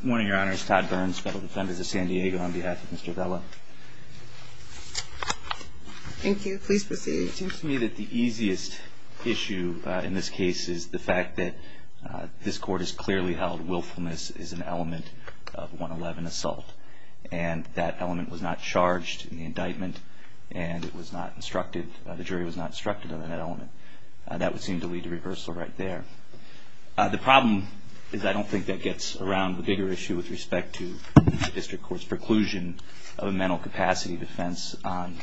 Good morning, Your Honors. Todd Burns, Federal Defender of San Diego, on behalf of Mr. Vela. Thank you. Please proceed. It seems to me that the easiest issue in this case is the fact that this Court has clearly held willfulness is an element of 111 assault. And that element was not charged in the indictment, and it was not instructed, the jury was not instructed on that element. That would seem to lead to reversal right there. The problem is I don't think that gets around the bigger issue with respect to the District Court's preclusion of a mental capacity defense on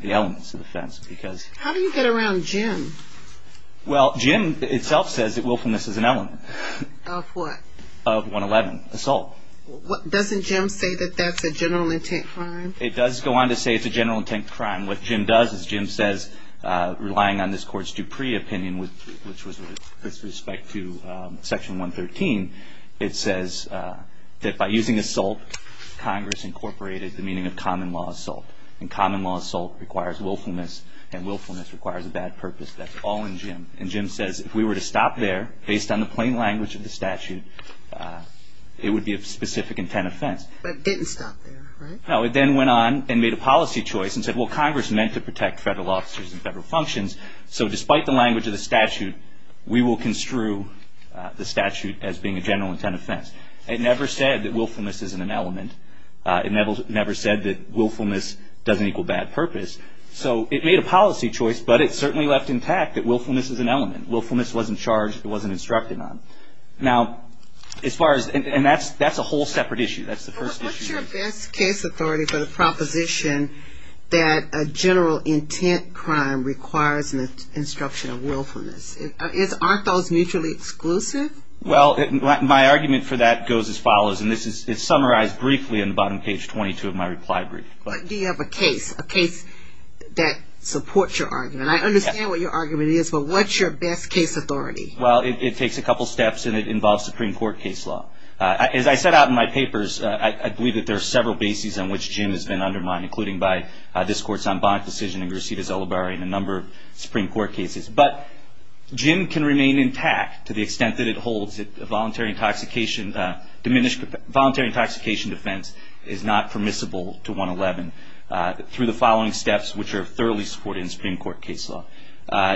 the elements of the offense. How do you get around Jim? Well, Jim itself says that willfulness is an element. Of what? Of 111 assault. Doesn't Jim say that that's a general intent crime? It does go on to say it's a general intent crime. What Jim does is Jim says, relying on this Court's Dupree opinion, which was with respect to Section 113, it says that by using assault, Congress incorporated the meaning of common law assault. And common law assault requires willfulness, and willfulness requires a bad purpose. That's all in Jim. And Jim says if we were to stop there, based on the plain language of the statute, it would be a specific intent offense. But it didn't stop there, right? No, it then went on and made a policy choice and said, well, Congress meant to protect federal officers and federal functions, so despite the language of the statute, we will construe the statute as being a general intent offense. It never said that willfulness isn't an element. It never said that willfulness doesn't equal bad purpose. So it made a policy choice, but it certainly left intact that willfulness is an element. Willfulness wasn't charged. It wasn't instructed on. Now, as far as – and that's a whole separate issue. That's the first issue. What's your best case authority for the proposition that a general intent crime requires an instruction of willfulness? Aren't those mutually exclusive? Well, my argument for that goes as follows, and this is summarized briefly in the bottom page 22 of my reply brief. But do you have a case, a case that supports your argument? I understand what your argument is, but what's your best case authority? Well, it takes a couple steps, and it involves Supreme Court case law. As I set out in my papers, I believe that there are several bases on which Jim has been undermined, including by this Court's en banc decision in Garcetta's alibari and a number of Supreme Court cases. But Jim can remain intact to the extent that it holds that voluntary intoxication defense is not permissible to 111 through the following steps, which are thoroughly supported in Supreme Court case law.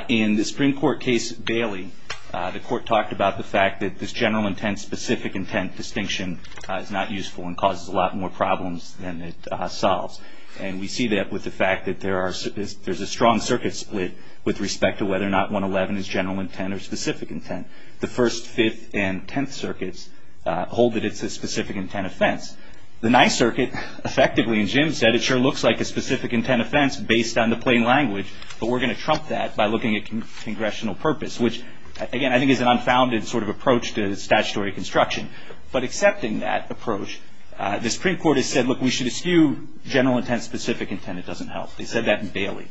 In the Supreme Court case Bailey, the Court talked about the fact that this general intent, specific intent distinction is not useful and causes a lot more problems than it solves. And we see that with the fact that there's a strong circuit split with respect to whether or not 111 is general intent or specific intent. The first, fifth, and tenth circuits hold that it's a specific intent offense. The ninth circuit effectively, as Jim said, it sure looks like a specific intent offense based on the plain language, but we're going to trump that by looking at congressional purpose, which, again, I think is an unfounded sort of approach to statutory construction. But accepting that approach, the Supreme Court has said, look, we should eschew general intent, specific intent. It doesn't help. They said that in Bailey.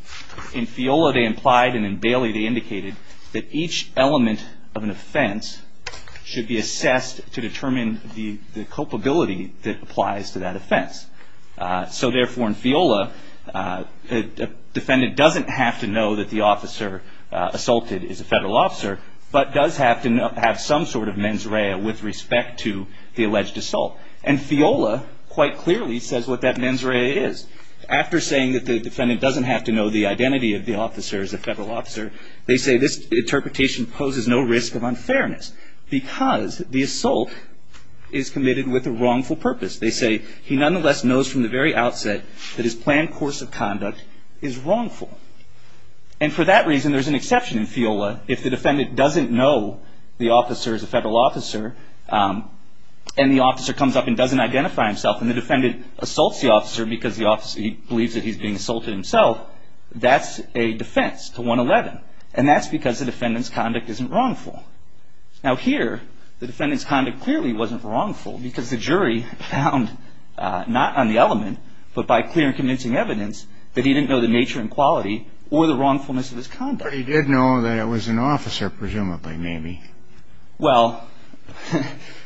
In Fiola, they implied, and in Bailey, they indicated that each element of an offense should be assessed to determine the culpability that applies to that offense. So, therefore, in Fiola, the defendant doesn't have to know that the officer assaulted is a federal officer, but does have to have some sort of mens rea with respect to the alleged assault. And Fiola quite clearly says what that mens rea is. After saying that the defendant doesn't have to know the identity of the officer as a federal officer, they say this interpretation poses no risk of unfairness because the assault is committed with a wrongful purpose. They say he nonetheless knows from the very outset that his planned course of conduct is wrongful. And for that reason, there's an exception in Fiola. If the defendant doesn't know the officer is a federal officer, and the officer comes up and doesn't identify himself, and the defendant assaults the officer because the officer believes that he's being assaulted himself, that's a defense to 111, and that's because the defendant's conduct isn't wrongful. Now, here, the defendant's conduct clearly wasn't wrongful because the jury found, not on the element, but by clear and convincing evidence that he didn't know the nature and quality or the wrongfulness of his conduct. But he did know that it was an officer, presumably, maybe. Well,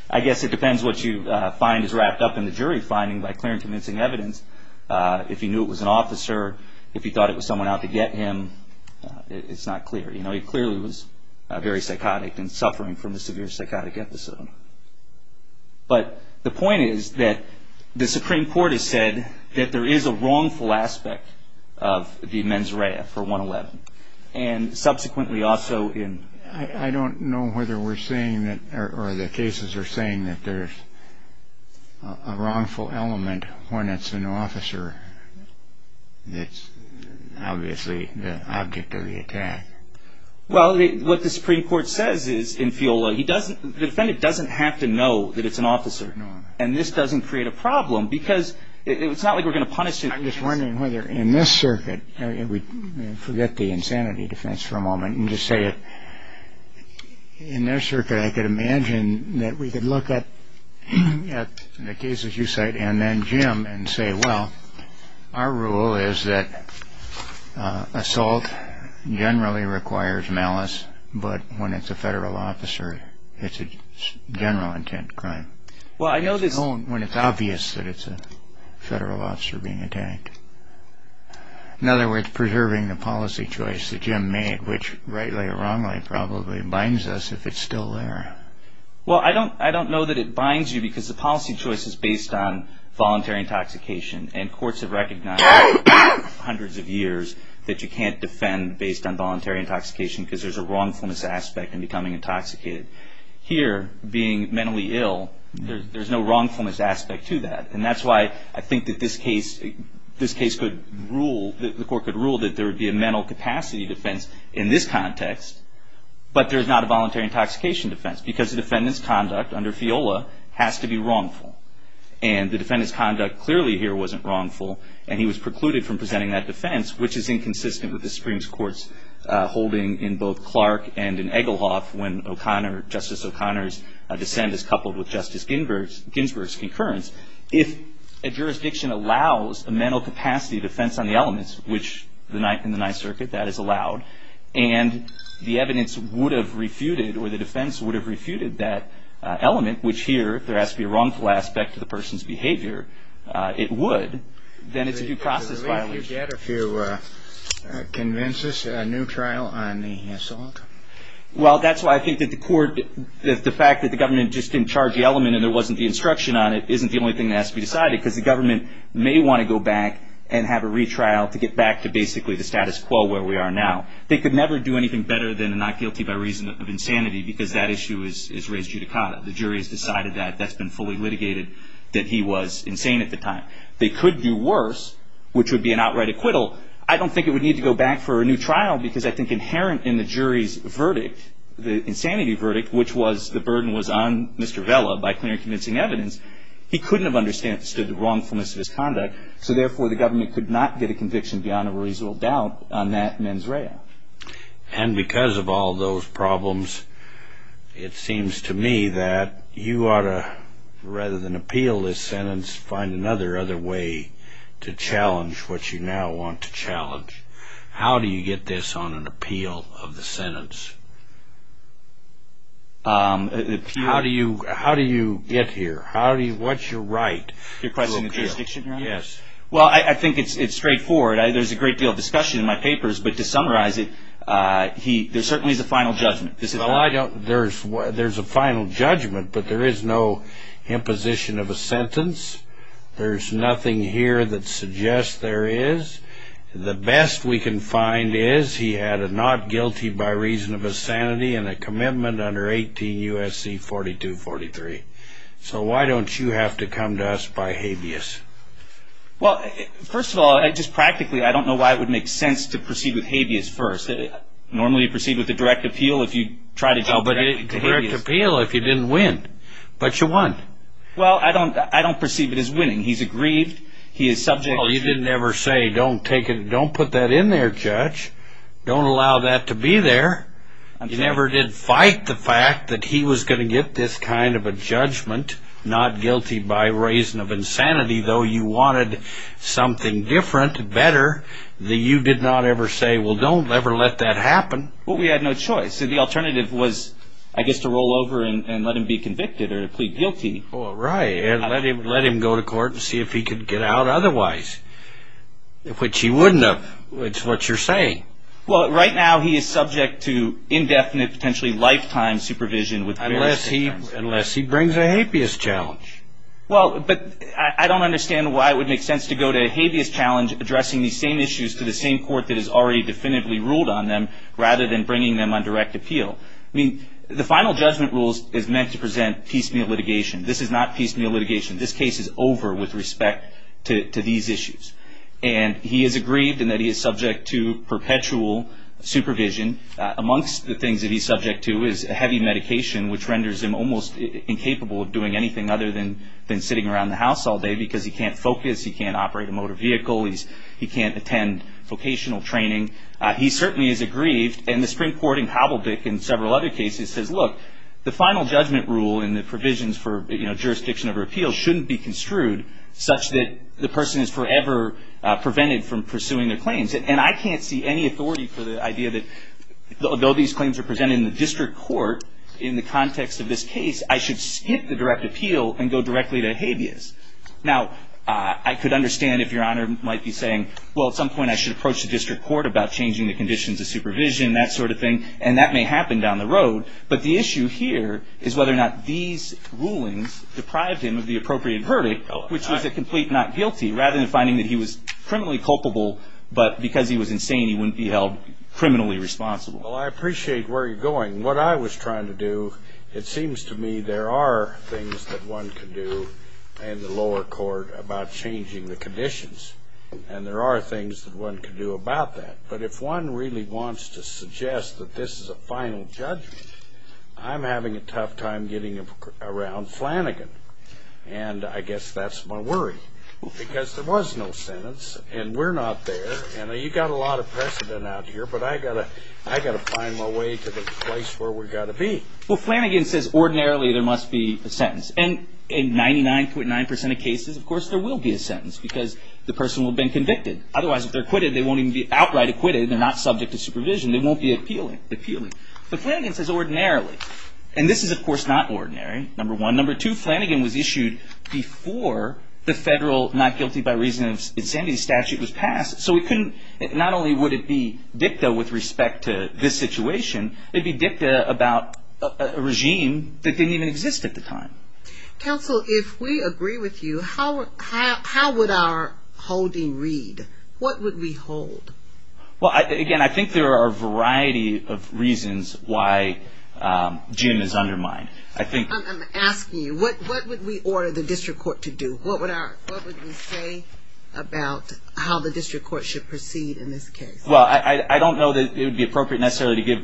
I guess it depends what you find is wrapped up in the jury finding by clear and convincing evidence. If he knew it was an officer, if he thought it was someone out to get him, it's not clear. You know, he clearly was very psychotic and suffering from a severe psychotic episode. But the point is that the Supreme Court has said that there is a wrongful aspect of the mens rea for 111. And subsequently, also in – I don't know whether we're saying that – or the cases are saying that there's a wrongful element when it's an officer that's obviously the object of the attack. Well, what the Supreme Court says is, in FIOLA, he doesn't – the defendant doesn't have to know that it's an officer. No. And this doesn't create a problem because it's not like we're going to punish him. I'm just wondering whether in this circuit – and we forget the insanity defense for a moment and just say it – in this circuit, I could imagine that we could look at the cases you cite and then Jim and say, well, our rule is that assault generally requires malice, but when it's a federal officer, it's a general-intent crime. Well, I know this – When it's obvious that it's a federal officer being attacked. In other words, preserving the policy choice that Jim made, which, rightly or wrongly, probably binds us if it's still there. Well, I don't know that it binds you because the policy choice is based on voluntary intoxication. And courts have recognized for hundreds of years that you can't defend based on voluntary intoxication because there's a wrongfulness aspect in becoming intoxicated. Here, being mentally ill, there's no wrongfulness aspect to that. And that's why I think that this case could rule – the court could rule that there would be a mental capacity defense in this context, but there's not a voluntary intoxication defense because the defendant's conduct under FIOLA has to be wrongful. And the defendant's conduct clearly here wasn't wrongful, and he was precluded from presenting that defense, which is inconsistent with the Supreme Court's holding in both Clark and in Egelhoff when Justice O'Connor's dissent is coupled with Justice Ginsburg's concurrence. If a jurisdiction allows a mental capacity defense on the elements, which in the Ninth Circuit, that is allowed, and the evidence would have refuted or the defense would have refuted that element, which here, if there has to be a wrongful aspect to the person's behavior, it would, then it's a due process violation. The relief you get if you convince us of a new trial on the assault? Well, that's why I think that the court – the fact that the government just didn't charge the element and there wasn't the instruction on it isn't the only thing that has to be decided because the government may want to go back and have a retrial to get back to basically the status quo where we are now. They could never do anything better than a not guilty by reason of insanity because that issue is raised judicata. The jury has decided that. That's been fully litigated that he was insane at the time. They could do worse, which would be an outright acquittal. I don't think it would need to go back for a new trial because I think inherent in the jury's verdict, the insanity verdict, which was the burden was on Mr. Vella by clear and convincing evidence, he couldn't have understood the wrongfulness of his conduct, so therefore the government could not get a conviction beyond a reasonable doubt on that mens rea. And because of all those problems, it seems to me that you ought to, rather than appeal this sentence, find another other way to challenge what you now want to challenge. How do you get this on an appeal of the sentence? How do you get here? What's your right? Your question is jurisdiction, right? Yes. Well, I think it's straightforward. There's a great deal of discussion in my papers, but to summarize it, there certainly is a final judgment. There's a final judgment, but there is no imposition of a sentence. There's nothing here that suggests there is. The best we can find is he had a not guilty by reason of insanity and a commitment under 18 U.S.C. 4243. So why don't you have to come to us by habeas? Well, first of all, just practically, I don't know why it would make sense to proceed with habeas first. Normally you proceed with a direct appeal if you try to go to habeas. No, but a direct appeal if you didn't win, but you won. Well, I don't perceive it as winning. He's aggrieved. Well, you didn't ever say, don't put that in there, judge. Don't allow that to be there. You never did fight the fact that he was going to get this kind of a judgment, not guilty by reason of insanity, though you wanted something different, better, that you did not ever say, well, don't ever let that happen. Well, we had no choice. The alternative was, I guess, to roll over and let him be convicted or to plead guilty. Oh, right, and let him go to court and see if he could get out otherwise, which he wouldn't have. It's what you're saying. Well, right now he is subject to indefinite, potentially lifetime supervision with various conditions. Unless he brings a habeas challenge. Well, but I don't understand why it would make sense to go to a habeas challenge, addressing these same issues to the same court that has already definitively ruled on them, rather than bringing them on direct appeal. I mean, the final judgment rules is meant to present piecemeal litigation. This is not piecemeal litigation. This case is over with respect to these issues. And he is aggrieved in that he is subject to perpetual supervision. Amongst the things that he's subject to is heavy medication, which renders him almost incapable of doing anything other than sitting around the house all day because he can't focus, he can't operate a motor vehicle, he can't attend vocational training. He certainly is aggrieved. And the Supreme Court in Pobeldick and several other cases says, look, the final judgment rule in the provisions for jurisdiction over appeal shouldn't be construed such that the person is forever prevented from pursuing their claims. And I can't see any authority for the idea that though these claims are presented in the district court, in the context of this case, I should skip the direct appeal and go directly to habeas. Now, I could understand if Your Honor might be saying, well, at some point I should approach the district court about changing the conditions of supervision, that sort of thing. And that may happen down the road. But the issue here is whether or not these rulings deprived him of the appropriate verdict, which was a complete not guilty, rather than finding that he was criminally culpable, but because he was insane, he wouldn't be held criminally responsible. Well, I appreciate where you're going. What I was trying to do, it seems to me there are things that one can do in the lower court about changing the conditions. And there are things that one can do about that. But if one really wants to suggest that this is a final judgment, I'm having a tough time getting around Flanagan. And I guess that's my worry. Because there was no sentence, and we're not there, and you've got a lot of precedent out here, but I've got to find my way to the place where we've got to be. Well, Flanagan says ordinarily there must be a sentence. And in 99.9% of cases, of course, there will be a sentence because the person will have been convicted. Otherwise, if they're acquitted, they won't even be outright acquitted. They're not subject to supervision. They won't be appealing. But Flanagan says ordinarily. And this is, of course, not ordinary, number one. Number two, Flanagan was issued before the federal not guilty by reason of insanity statute was passed. So not only would it be dicta with respect to this situation, it would be dicta about a regime that didn't even exist at the time. Counsel, if we agree with you, how would our holding read? What would we hold? Well, again, I think there are a variety of reasons why Jim is undermined. I'm asking you, what would we order the district court to do? What would we say about how the district court should proceed in this case? Well, I don't know that it would be appropriate necessarily to give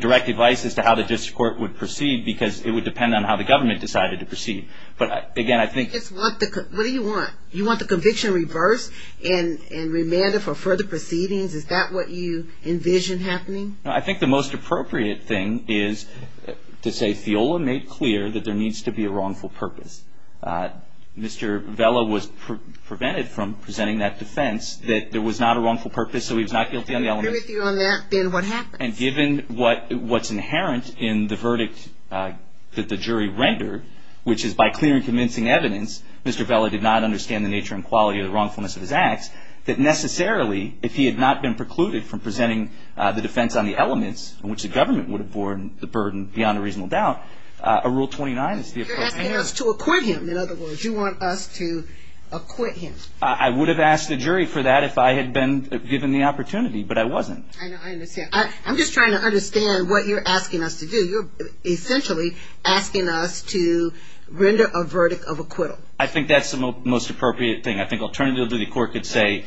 direct advice as to how the district court would proceed because it would depend on how the government decided to proceed. But, again, I think. What do you want? You want the conviction reversed and remanded for further proceedings? Is that what you envision happening? I think the most appropriate thing is to say Theola made clear that there needs to be a wrongful purpose. Mr. Vella was prevented from presenting that defense, that there was not a wrongful purpose so he was not guilty on the elements. If you're not guilty on that, then what happens? And given what's inherent in the verdict that the jury rendered, which is by clear and convincing evidence, Mr. Vella did not understand the nature and quality of the wrongfulness of his acts, that necessarily if he had not been precluded from presenting the defense on the elements in which the government would have borne the burden beyond a reasonable doubt, Rule 29 is the appropriate answer. You're asking us to acquit him, in other words. You want us to acquit him. I would have asked the jury for that if I had been given the opportunity, but I wasn't. I understand. I'm just trying to understand what you're asking us to do. You're essentially asking us to render a verdict of acquittal. I think that's the most appropriate thing. I think alternatively the court could say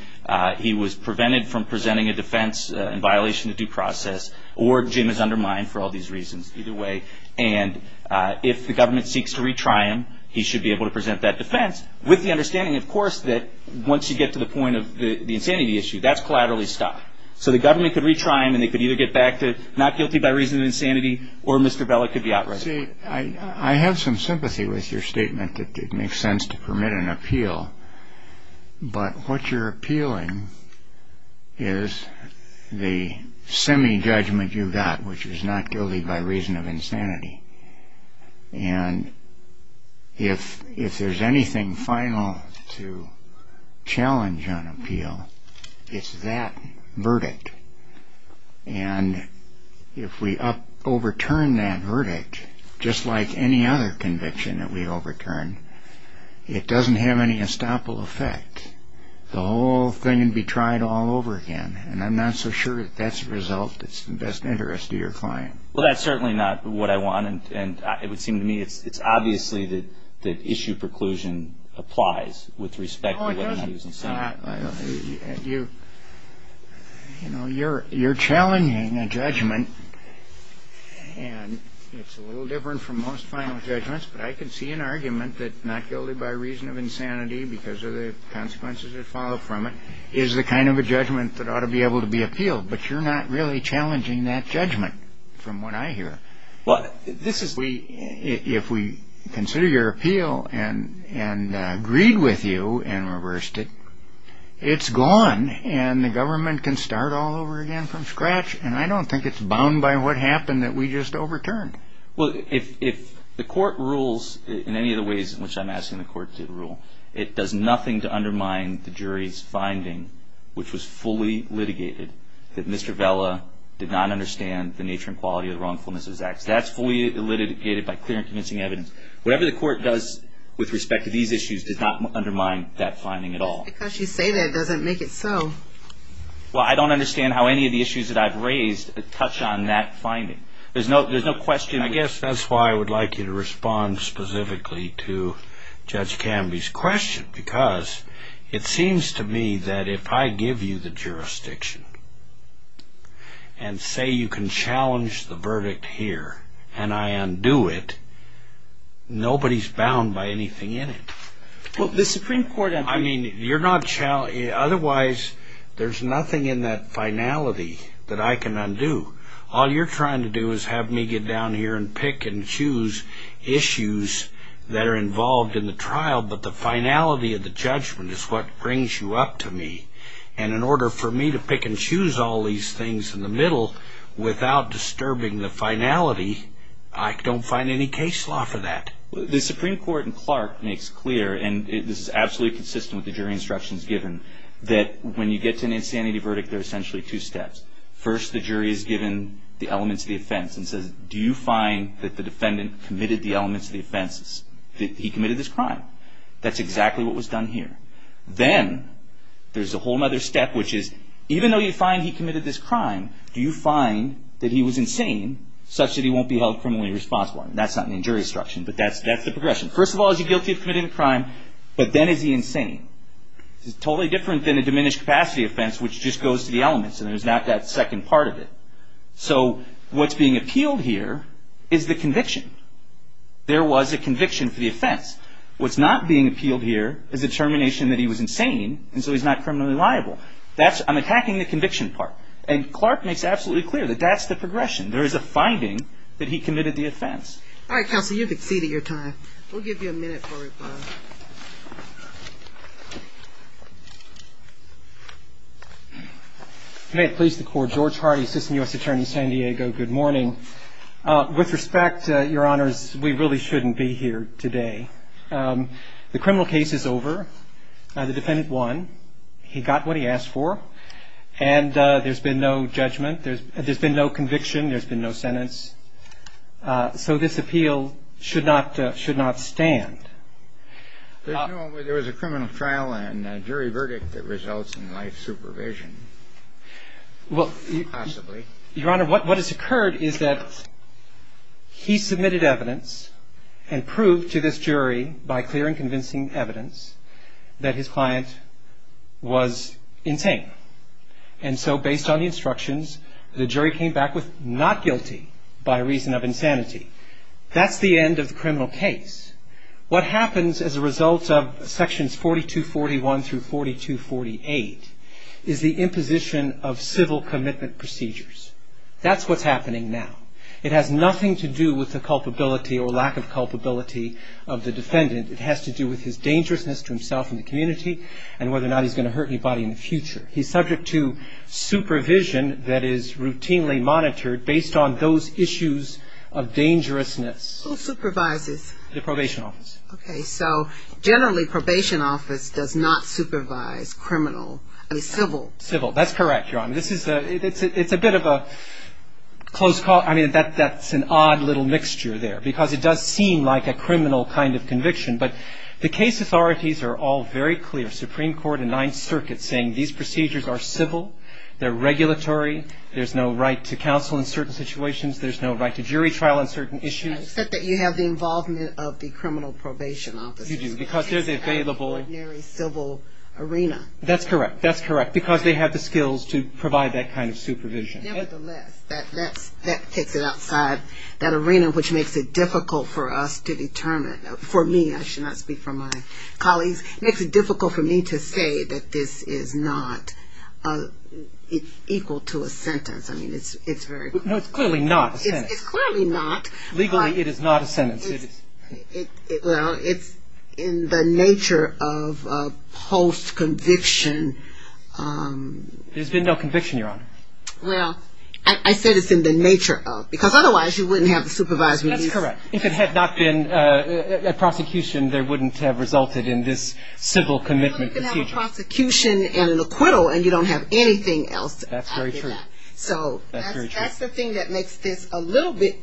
he was prevented from presenting a defense in violation of due process or Jim is undermined for all these reasons either way. And if the government seeks to retry him, he should be able to present that defense with the understanding, of course, that once you get to the point of the insanity issue, that's collaterally stopped. So the government could retry him and they could either get back to not guilty by reason of insanity or Mr. Vella could be outright guilty. See, I have some sympathy with your statement that it makes sense to permit an appeal, but what you're appealing is the semi-judgment you got, which is not guilty by reason of insanity. And if there's anything final to challenge on appeal, it's that verdict. And if we overturn that verdict, just like any other conviction that we overturn, it doesn't have any estoppel effect. The whole thing would be tried all over again. And I'm not so sure that that's the result that's of best interest to your client. Well, that's certainly not what I want. And it would seem to me it's obviously that issue preclusion applies with respect to whether he was insane. You know, you're challenging a judgment, and it's a little different from most final judgments, but I can see an argument that not guilty by reason of insanity because of the consequences that follow from it is the kind of a judgment that ought to be able to be appealed. But you're not really challenging that judgment from what I hear. If we consider your appeal and agreed with you and reversed it, it's gone, and the government can start all over again from scratch, and I don't think it's bound by what happened that we just overturned. Well, if the court rules in any of the ways in which I'm asking the court to rule, it does nothing to undermine the jury's finding, which was fully litigated, that Mr. Vella did not understand the nature and quality of the wrongfulness of his acts. That's fully litigated by clear and convincing evidence. Whatever the court does with respect to these issues does not undermine that finding at all. Because you say that doesn't make it so. Well, I don't understand how any of the issues that I've raised touch on that finding. There's no question. I mean, I guess that's why I would like you to respond specifically to Judge Canby's question, because it seems to me that if I give you the jurisdiction and say you can challenge the verdict here and I undo it, nobody's bound by anything in it. Well, the Supreme Court undoes it. I mean, you're not challenging. Otherwise, there's nothing in that finality that I can undo. All you're trying to do is have me get down here and pick and choose issues that are involved in the trial, but the finality of the judgment is what brings you up to me. And in order for me to pick and choose all these things in the middle without disturbing the finality, I don't find any case law for that. The Supreme Court in Clark makes clear, and this is absolutely consistent with the jury instructions given, that when you get to an insanity verdict, there are essentially two steps. First, the jury is given the elements of the offense and says, do you find that the defendant committed the elements of the offenses, that he committed this crime? That's exactly what was done here. Then there's a whole other step, which is even though you find he committed this crime, do you find that he was insane such that he won't be held criminally responsible? And that's not in the jury instruction, but that's the progression. First of all, is he guilty of committing a crime, but then is he insane? This is totally different than a diminished capacity offense, which just goes to the elements and there's not that second part of it. So what's being appealed here is the conviction. There was a conviction for the offense. What's not being appealed here is the determination that he was insane, and so he's not criminally liable. I'm attacking the conviction part. And Clark makes absolutely clear that that's the progression. There is a finding that he committed the offense. All right, counsel, you've exceeded your time. We'll give you a minute for reply. May it please the Court, George Hardy, Assistant U.S. Attorney, San Diego. Good morning. With respect, Your Honors, we really shouldn't be here today. The criminal case is over. The defendant won. He got what he asked for. And there's been no judgment. There's been no conviction. There's been no sentence. So this appeal should not stand. There was a criminal trial and a jury verdict that results in life supervision. Possibly. Your Honor, what has occurred is that he submitted evidence and proved to this jury, by clear and convincing evidence, that his client was insane. And so based on the instructions, the jury came back with not guilty by reason of insanity. That's the end of the criminal case. What happens as a result of sections 4241 through 4248 is the imposition of civil commitment procedures. That's what's happening now. It has nothing to do with the culpability or lack of culpability of the defendant. It has to do with his dangerousness to himself and the community and whether or not he's going to hurt anybody in the future. He's subject to supervision that is routinely monitored based on those issues of dangerousness. Who supervises? The probation office. Okay. So generally probation office does not supervise criminal, I mean civil. Civil. That's correct, Your Honor. It's a bit of a close call. I mean, that's an odd little mixture there because it does seem like a criminal kind of conviction. But the case authorities are all very clear, Supreme Court and Ninth Circuit, saying these procedures are civil. They're regulatory. There's no right to counsel in certain situations. There's no right to jury trial in certain issues. Except that you have the involvement of the criminal probation offices. You do because they're the available. It's an ordinary civil arena. That's correct. That's correct because they have the skills to provide that kind of supervision. Nevertheless, that takes it outside that arena which makes it difficult for us to determine. For me, I should not speak for my colleagues. It makes it difficult for me to say that this is not equal to a sentence. I mean, it's very clear. No, it's clearly not a sentence. It's clearly not. Legally, it is not a sentence. Well, it's in the nature of a post-conviction. There's been no conviction, Your Honor. Well, I said it's in the nature of because otherwise you wouldn't have supervised me. That's correct. If it had not been a prosecution, there wouldn't have resulted in this civil commitment. Well, you can have a prosecution and an acquittal and you don't have anything else. That's very true. So that's the thing that makes this a little bit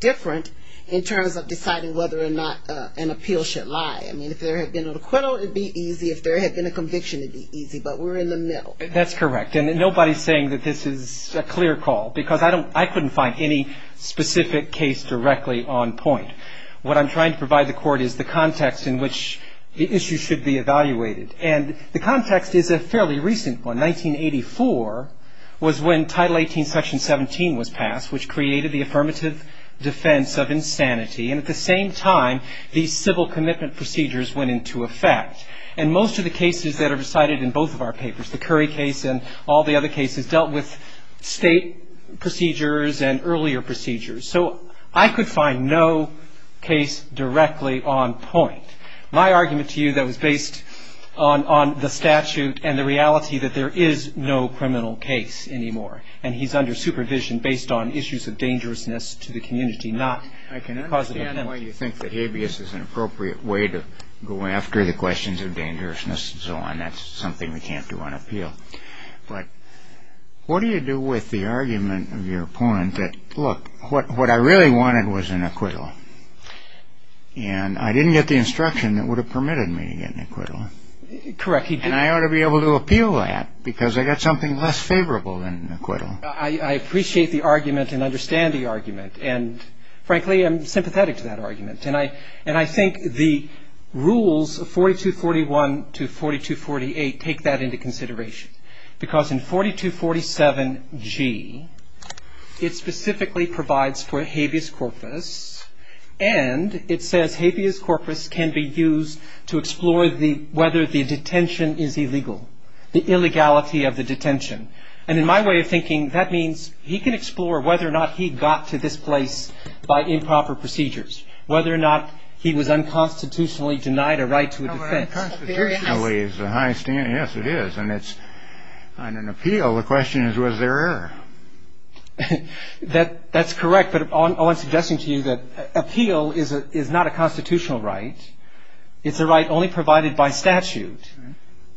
different in terms of deciding whether or not an appeal should lie. I mean, if there had been an acquittal, it would be easy. If there had been a conviction, it would be easy. But we're in the middle. That's correct. And nobody's saying that this is a clear call because I couldn't find any specific case directly on point. What I'm trying to provide the Court is the context in which the issue should be evaluated. And the context is a fairly recent one. 1984 was when Title 18, Section 17 was passed, which created the affirmative defense of insanity. And at the same time, these civil commitment procedures went into effect. And most of the cases that are recited in both of our papers, the Curry case and all the other cases, dealt with State procedures and earlier procedures. So I could find no case directly on point. My argument to you that was based on the statute and the reality that there is no criminal case anymore and he's under supervision based on issues of dangerousness to the community, not the cause of the crime. I don't know why you think that habeas is an appropriate way to go after the questions of dangerousness and so on. That's something we can't do on appeal. But what do you do with the argument of your opponent that, look, what I really wanted was an acquittal and I didn't get the instruction that would have permitted me to get an acquittal? Correct. And I ought to be able to appeal that because I got something less favorable than an acquittal. I appreciate the argument and understand the argument. And, frankly, I'm sympathetic to that argument. And I think the rules of 4241 to 4248 take that into consideration. Because in 4247G, it specifically provides for habeas corpus and it says habeas corpus can be used to explore whether the detention is illegal, the illegality of the detention. And in my way of thinking, that means he can explore whether or not he got to this place by improper procedures, whether or not he was unconstitutionally denied a right to a defense. Well, unconstitutionally is a high standard. Yes, it is. And it's on an appeal. The question is, was there error? That's correct. But all I'm suggesting to you that appeal is not a constitutional right. It's a right only provided by statute.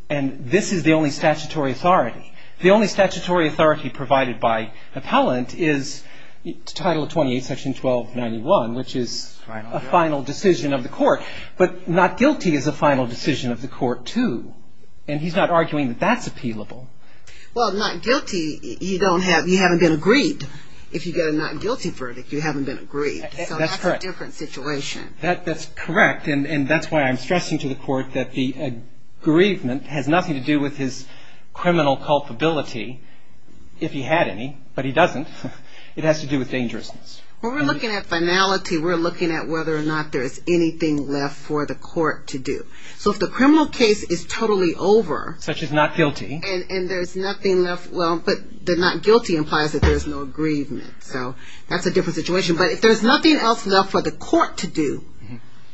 And this is the only statutory authority. The only statutory authority provided by appellant is Title 28, Section 1291, which is a final decision of the court. But not guilty is a final decision of the court, too. And he's not arguing that that's appealable. Well, not guilty, you haven't been agreed. If you get a not guilty verdict, you haven't been agreed. So that's a different situation. That's correct. And that's why I'm stressing to the court that the aggrievement has nothing to do with his criminal culpability, if he had any. But he doesn't. It has to do with dangerousness. When we're looking at finality, we're looking at whether or not there's anything left for the court to do. So if the criminal case is totally over. Such as not guilty. And there's nothing left. Well, but the not guilty implies that there's no aggrievement. So that's a different situation. But if there's nothing else left for the court to do,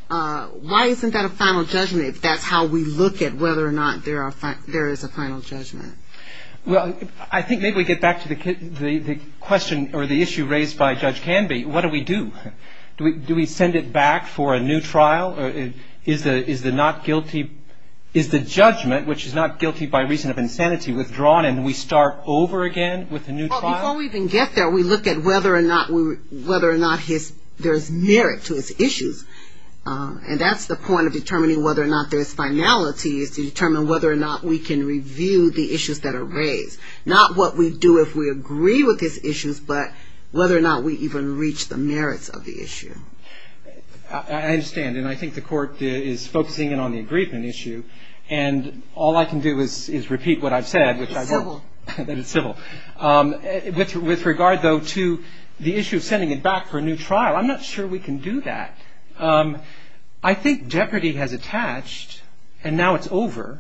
why isn't that a final judgment if that's how we look at whether or not there is a final judgment? Well, I think maybe we get back to the question or the issue raised by Judge Canby. What do we do? Do we send it back for a new trial? Is the judgment, which is not guilty by reason of insanity, withdrawn and we start over again with a new trial? Well, before we even get there, we look at whether or not there's merit to his issues. And that's the point of determining whether or not there's finality is to determine whether or not we can review the issues that are raised. Not what we do if we agree with his issues, but whether or not we even reach the merits of the issue. I understand. And I think the court is focusing in on the aggrievement issue. And all I can do is repeat what I've said. That it's civil. That it's civil. With regard, though, to the issue of sending it back for a new trial, I'm not sure we can do that. I think jeopardy has attached and now it's over.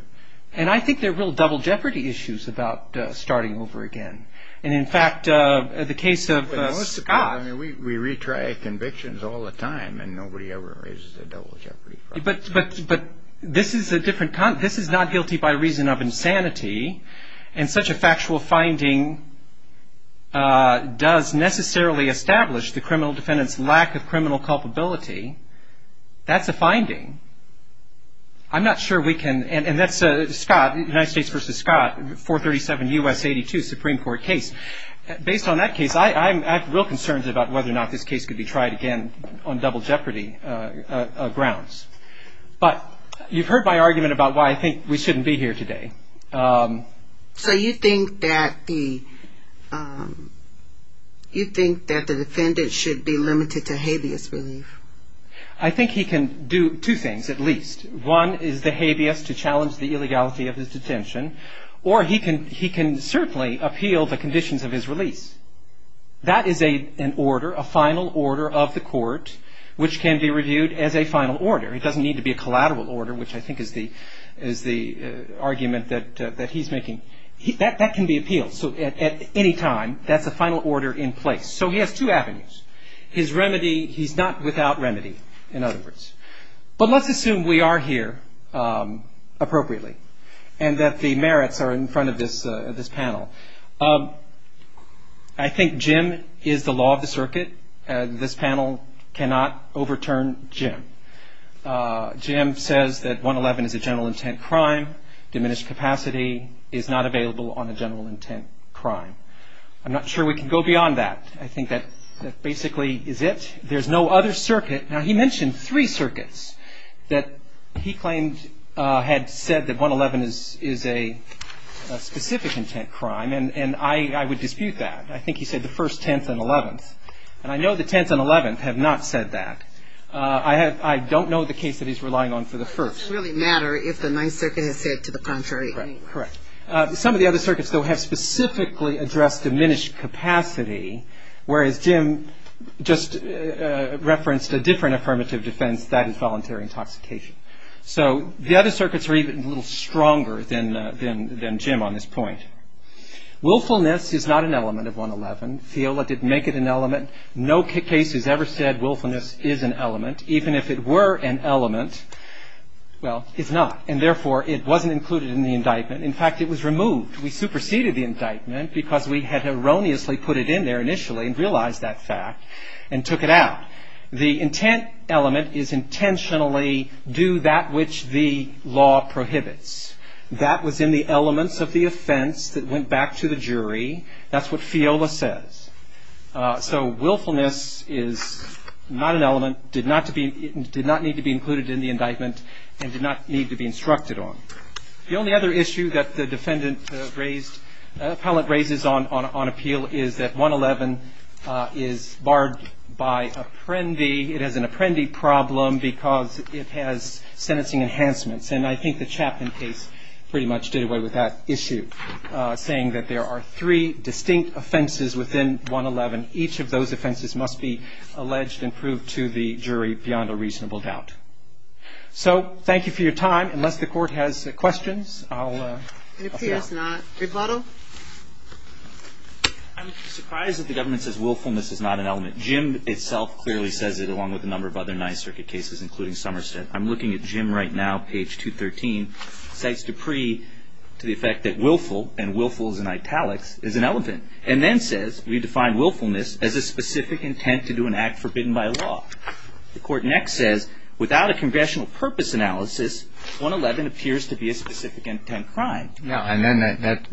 And I think there are real double jeopardy issues about starting over again. And, in fact, the case of Scott. We retry convictions all the time and nobody ever raises a double jeopardy. But this is not guilty by reason of insanity. And such a factual finding does necessarily establish the criminal defendant's lack of criminal culpability. That's a finding. I'm not sure we can. And that's Scott, United States v. Scott, 437 U.S. 82 Supreme Court case. Based on that case, I have real concerns about whether or not this case could be tried again on double jeopardy grounds. But you've heard my argument about why I think we shouldn't be here today. So you think that the defendant should be limited to habeas relief? I think he can do two things, at least. One is the habeas to challenge the illegality of his detention. Or he can certainly appeal the conditions of his release. That is an order, a final order of the court, which can be reviewed as a final order. It doesn't need to be a collateral order, which I think is the argument that he's making. That can be appealed at any time. That's a final order in place. So he has two avenues. His remedy, he's not without remedy, in other words. But let's assume we are here appropriately and that the merits are in front of this panel. I think Jim is the law of the circuit. This panel cannot overturn Jim. Jim says that 111 is a general intent crime. Diminished capacity is not available on a general intent crime. I'm not sure we can go beyond that. I think that basically is it. There's no other circuit. Now, he mentioned three circuits that he claimed had said that 111 is a specific intent crime, and I would dispute that. I think he said the First, Tenth, and Eleventh. And I know the Tenth and Eleventh have not said that. I don't know the case that he's relying on for the First. It doesn't really matter if the Ninth Circuit has said to the contrary. Correct. Some of the other circuits, though, have specifically addressed diminished capacity, whereas Jim just referenced a different affirmative defense, that is voluntary intoxication. So the other circuits are even a little stronger than Jim on this point. Willfulness is not an element of 111. FIOLA didn't make it an element. No case has ever said willfulness is an element, even if it were an element. Well, it's not, and therefore it wasn't included in the indictment. In fact, it was removed. We superseded the indictment because we had erroneously put it in there initially and realized that fact and took it out. The intent element is intentionally do that which the law prohibits. That was in the elements of the offense that went back to the jury. That's what FIOLA says. So willfulness is not an element, did not need to be included in the indictment, and did not need to be instructed on. The only other issue that the defendant raised, appellant raises on appeal, is that 111 is barred by Apprendi. It has an Apprendi problem because it has sentencing enhancements, and I think the Chapman case pretty much did away with that issue, saying that there are three distinct offenses within 111. Each of those offenses must be alleged and proved to the jury beyond a reasonable doubt. So thank you for your time. Unless the Court has questions, I'll be off. It appears not. Rebuttal? I'm surprised that the government says willfulness is not an element. Jim itself clearly says it, along with a number of other Ninth Circuit cases, including Somerset. I'm looking at Jim right now, page 213, cites Dupree to the effect that willful, and willful is an italics, is an element, and then says we define willfulness as a specific intent to do an act forbidden by law. The Court next says, without a congressional purpose analysis, 111 appears to be a specific intent crime. And then that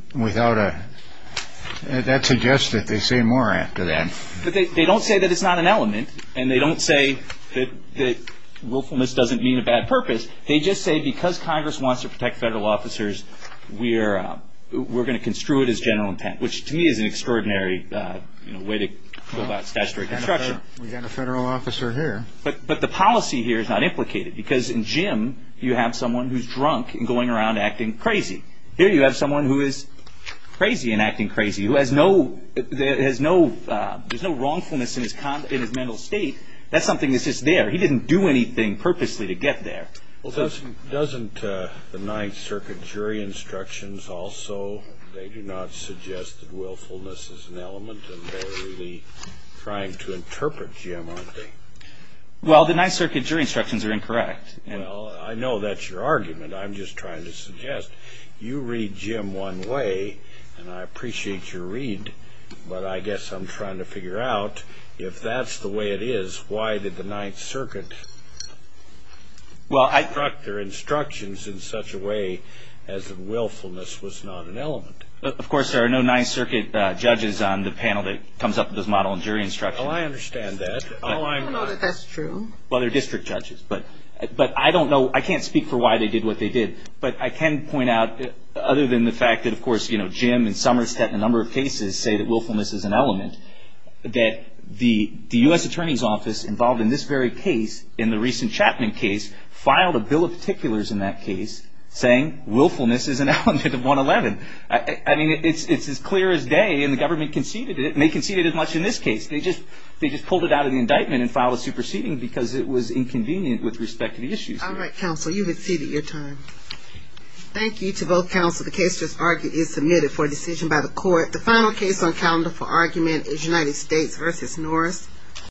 suggests that they say more after that. But they don't say that it's not an element, and they don't say that willfulness doesn't mean a bad purpose. They just say because Congress wants to protect federal officers, we're going to construe it as general intent, which to me is an extraordinary way to go about statutory construction. We've got a federal officer here. But the policy here is not implicated, because in Jim you have someone who's drunk and going around acting crazy. Here you have someone who is crazy and acting crazy, who has no wrongfulness in his mental state. That's something that's just there. He didn't do anything purposely to get there. Doesn't the Ninth Circuit jury instructions also, they do not suggest that willfulness is an element, and they're really trying to interpret Jim, aren't they? Well, the Ninth Circuit jury instructions are incorrect. Well, I know that's your argument. I'm just trying to suggest you read Jim one way, and I appreciate your read, but I guess I'm trying to figure out if that's the way it is, why did the Ninth Circuit instruct their instructions in such a way as if willfulness was not an element? Of course, there are no Ninth Circuit judges on the panel that comes up with those model jury instructions. Oh, I understand that. I don't know that that's true. Well, they're district judges. But I don't know, I can't speak for why they did what they did. But I can point out, other than the fact that, of course, Jim and Summers had a number of cases say that willfulness is an element, that the U.S. Attorney's Office involved in this very case, in the recent Chapman case, filed a bill of particulars in that case saying willfulness is an element of 111. I mean, it's as clear as day, and the government conceded it, and they conceded as much in this case. They just pulled it out of the indictment and filed a superseding because it was inconvenient with respect to the issues. All right, counsel, you've exceeded your time. Thank you to both counsel. The case just argued is submitted for decision by the court. The final case on calendar for argument is United States v. Norris.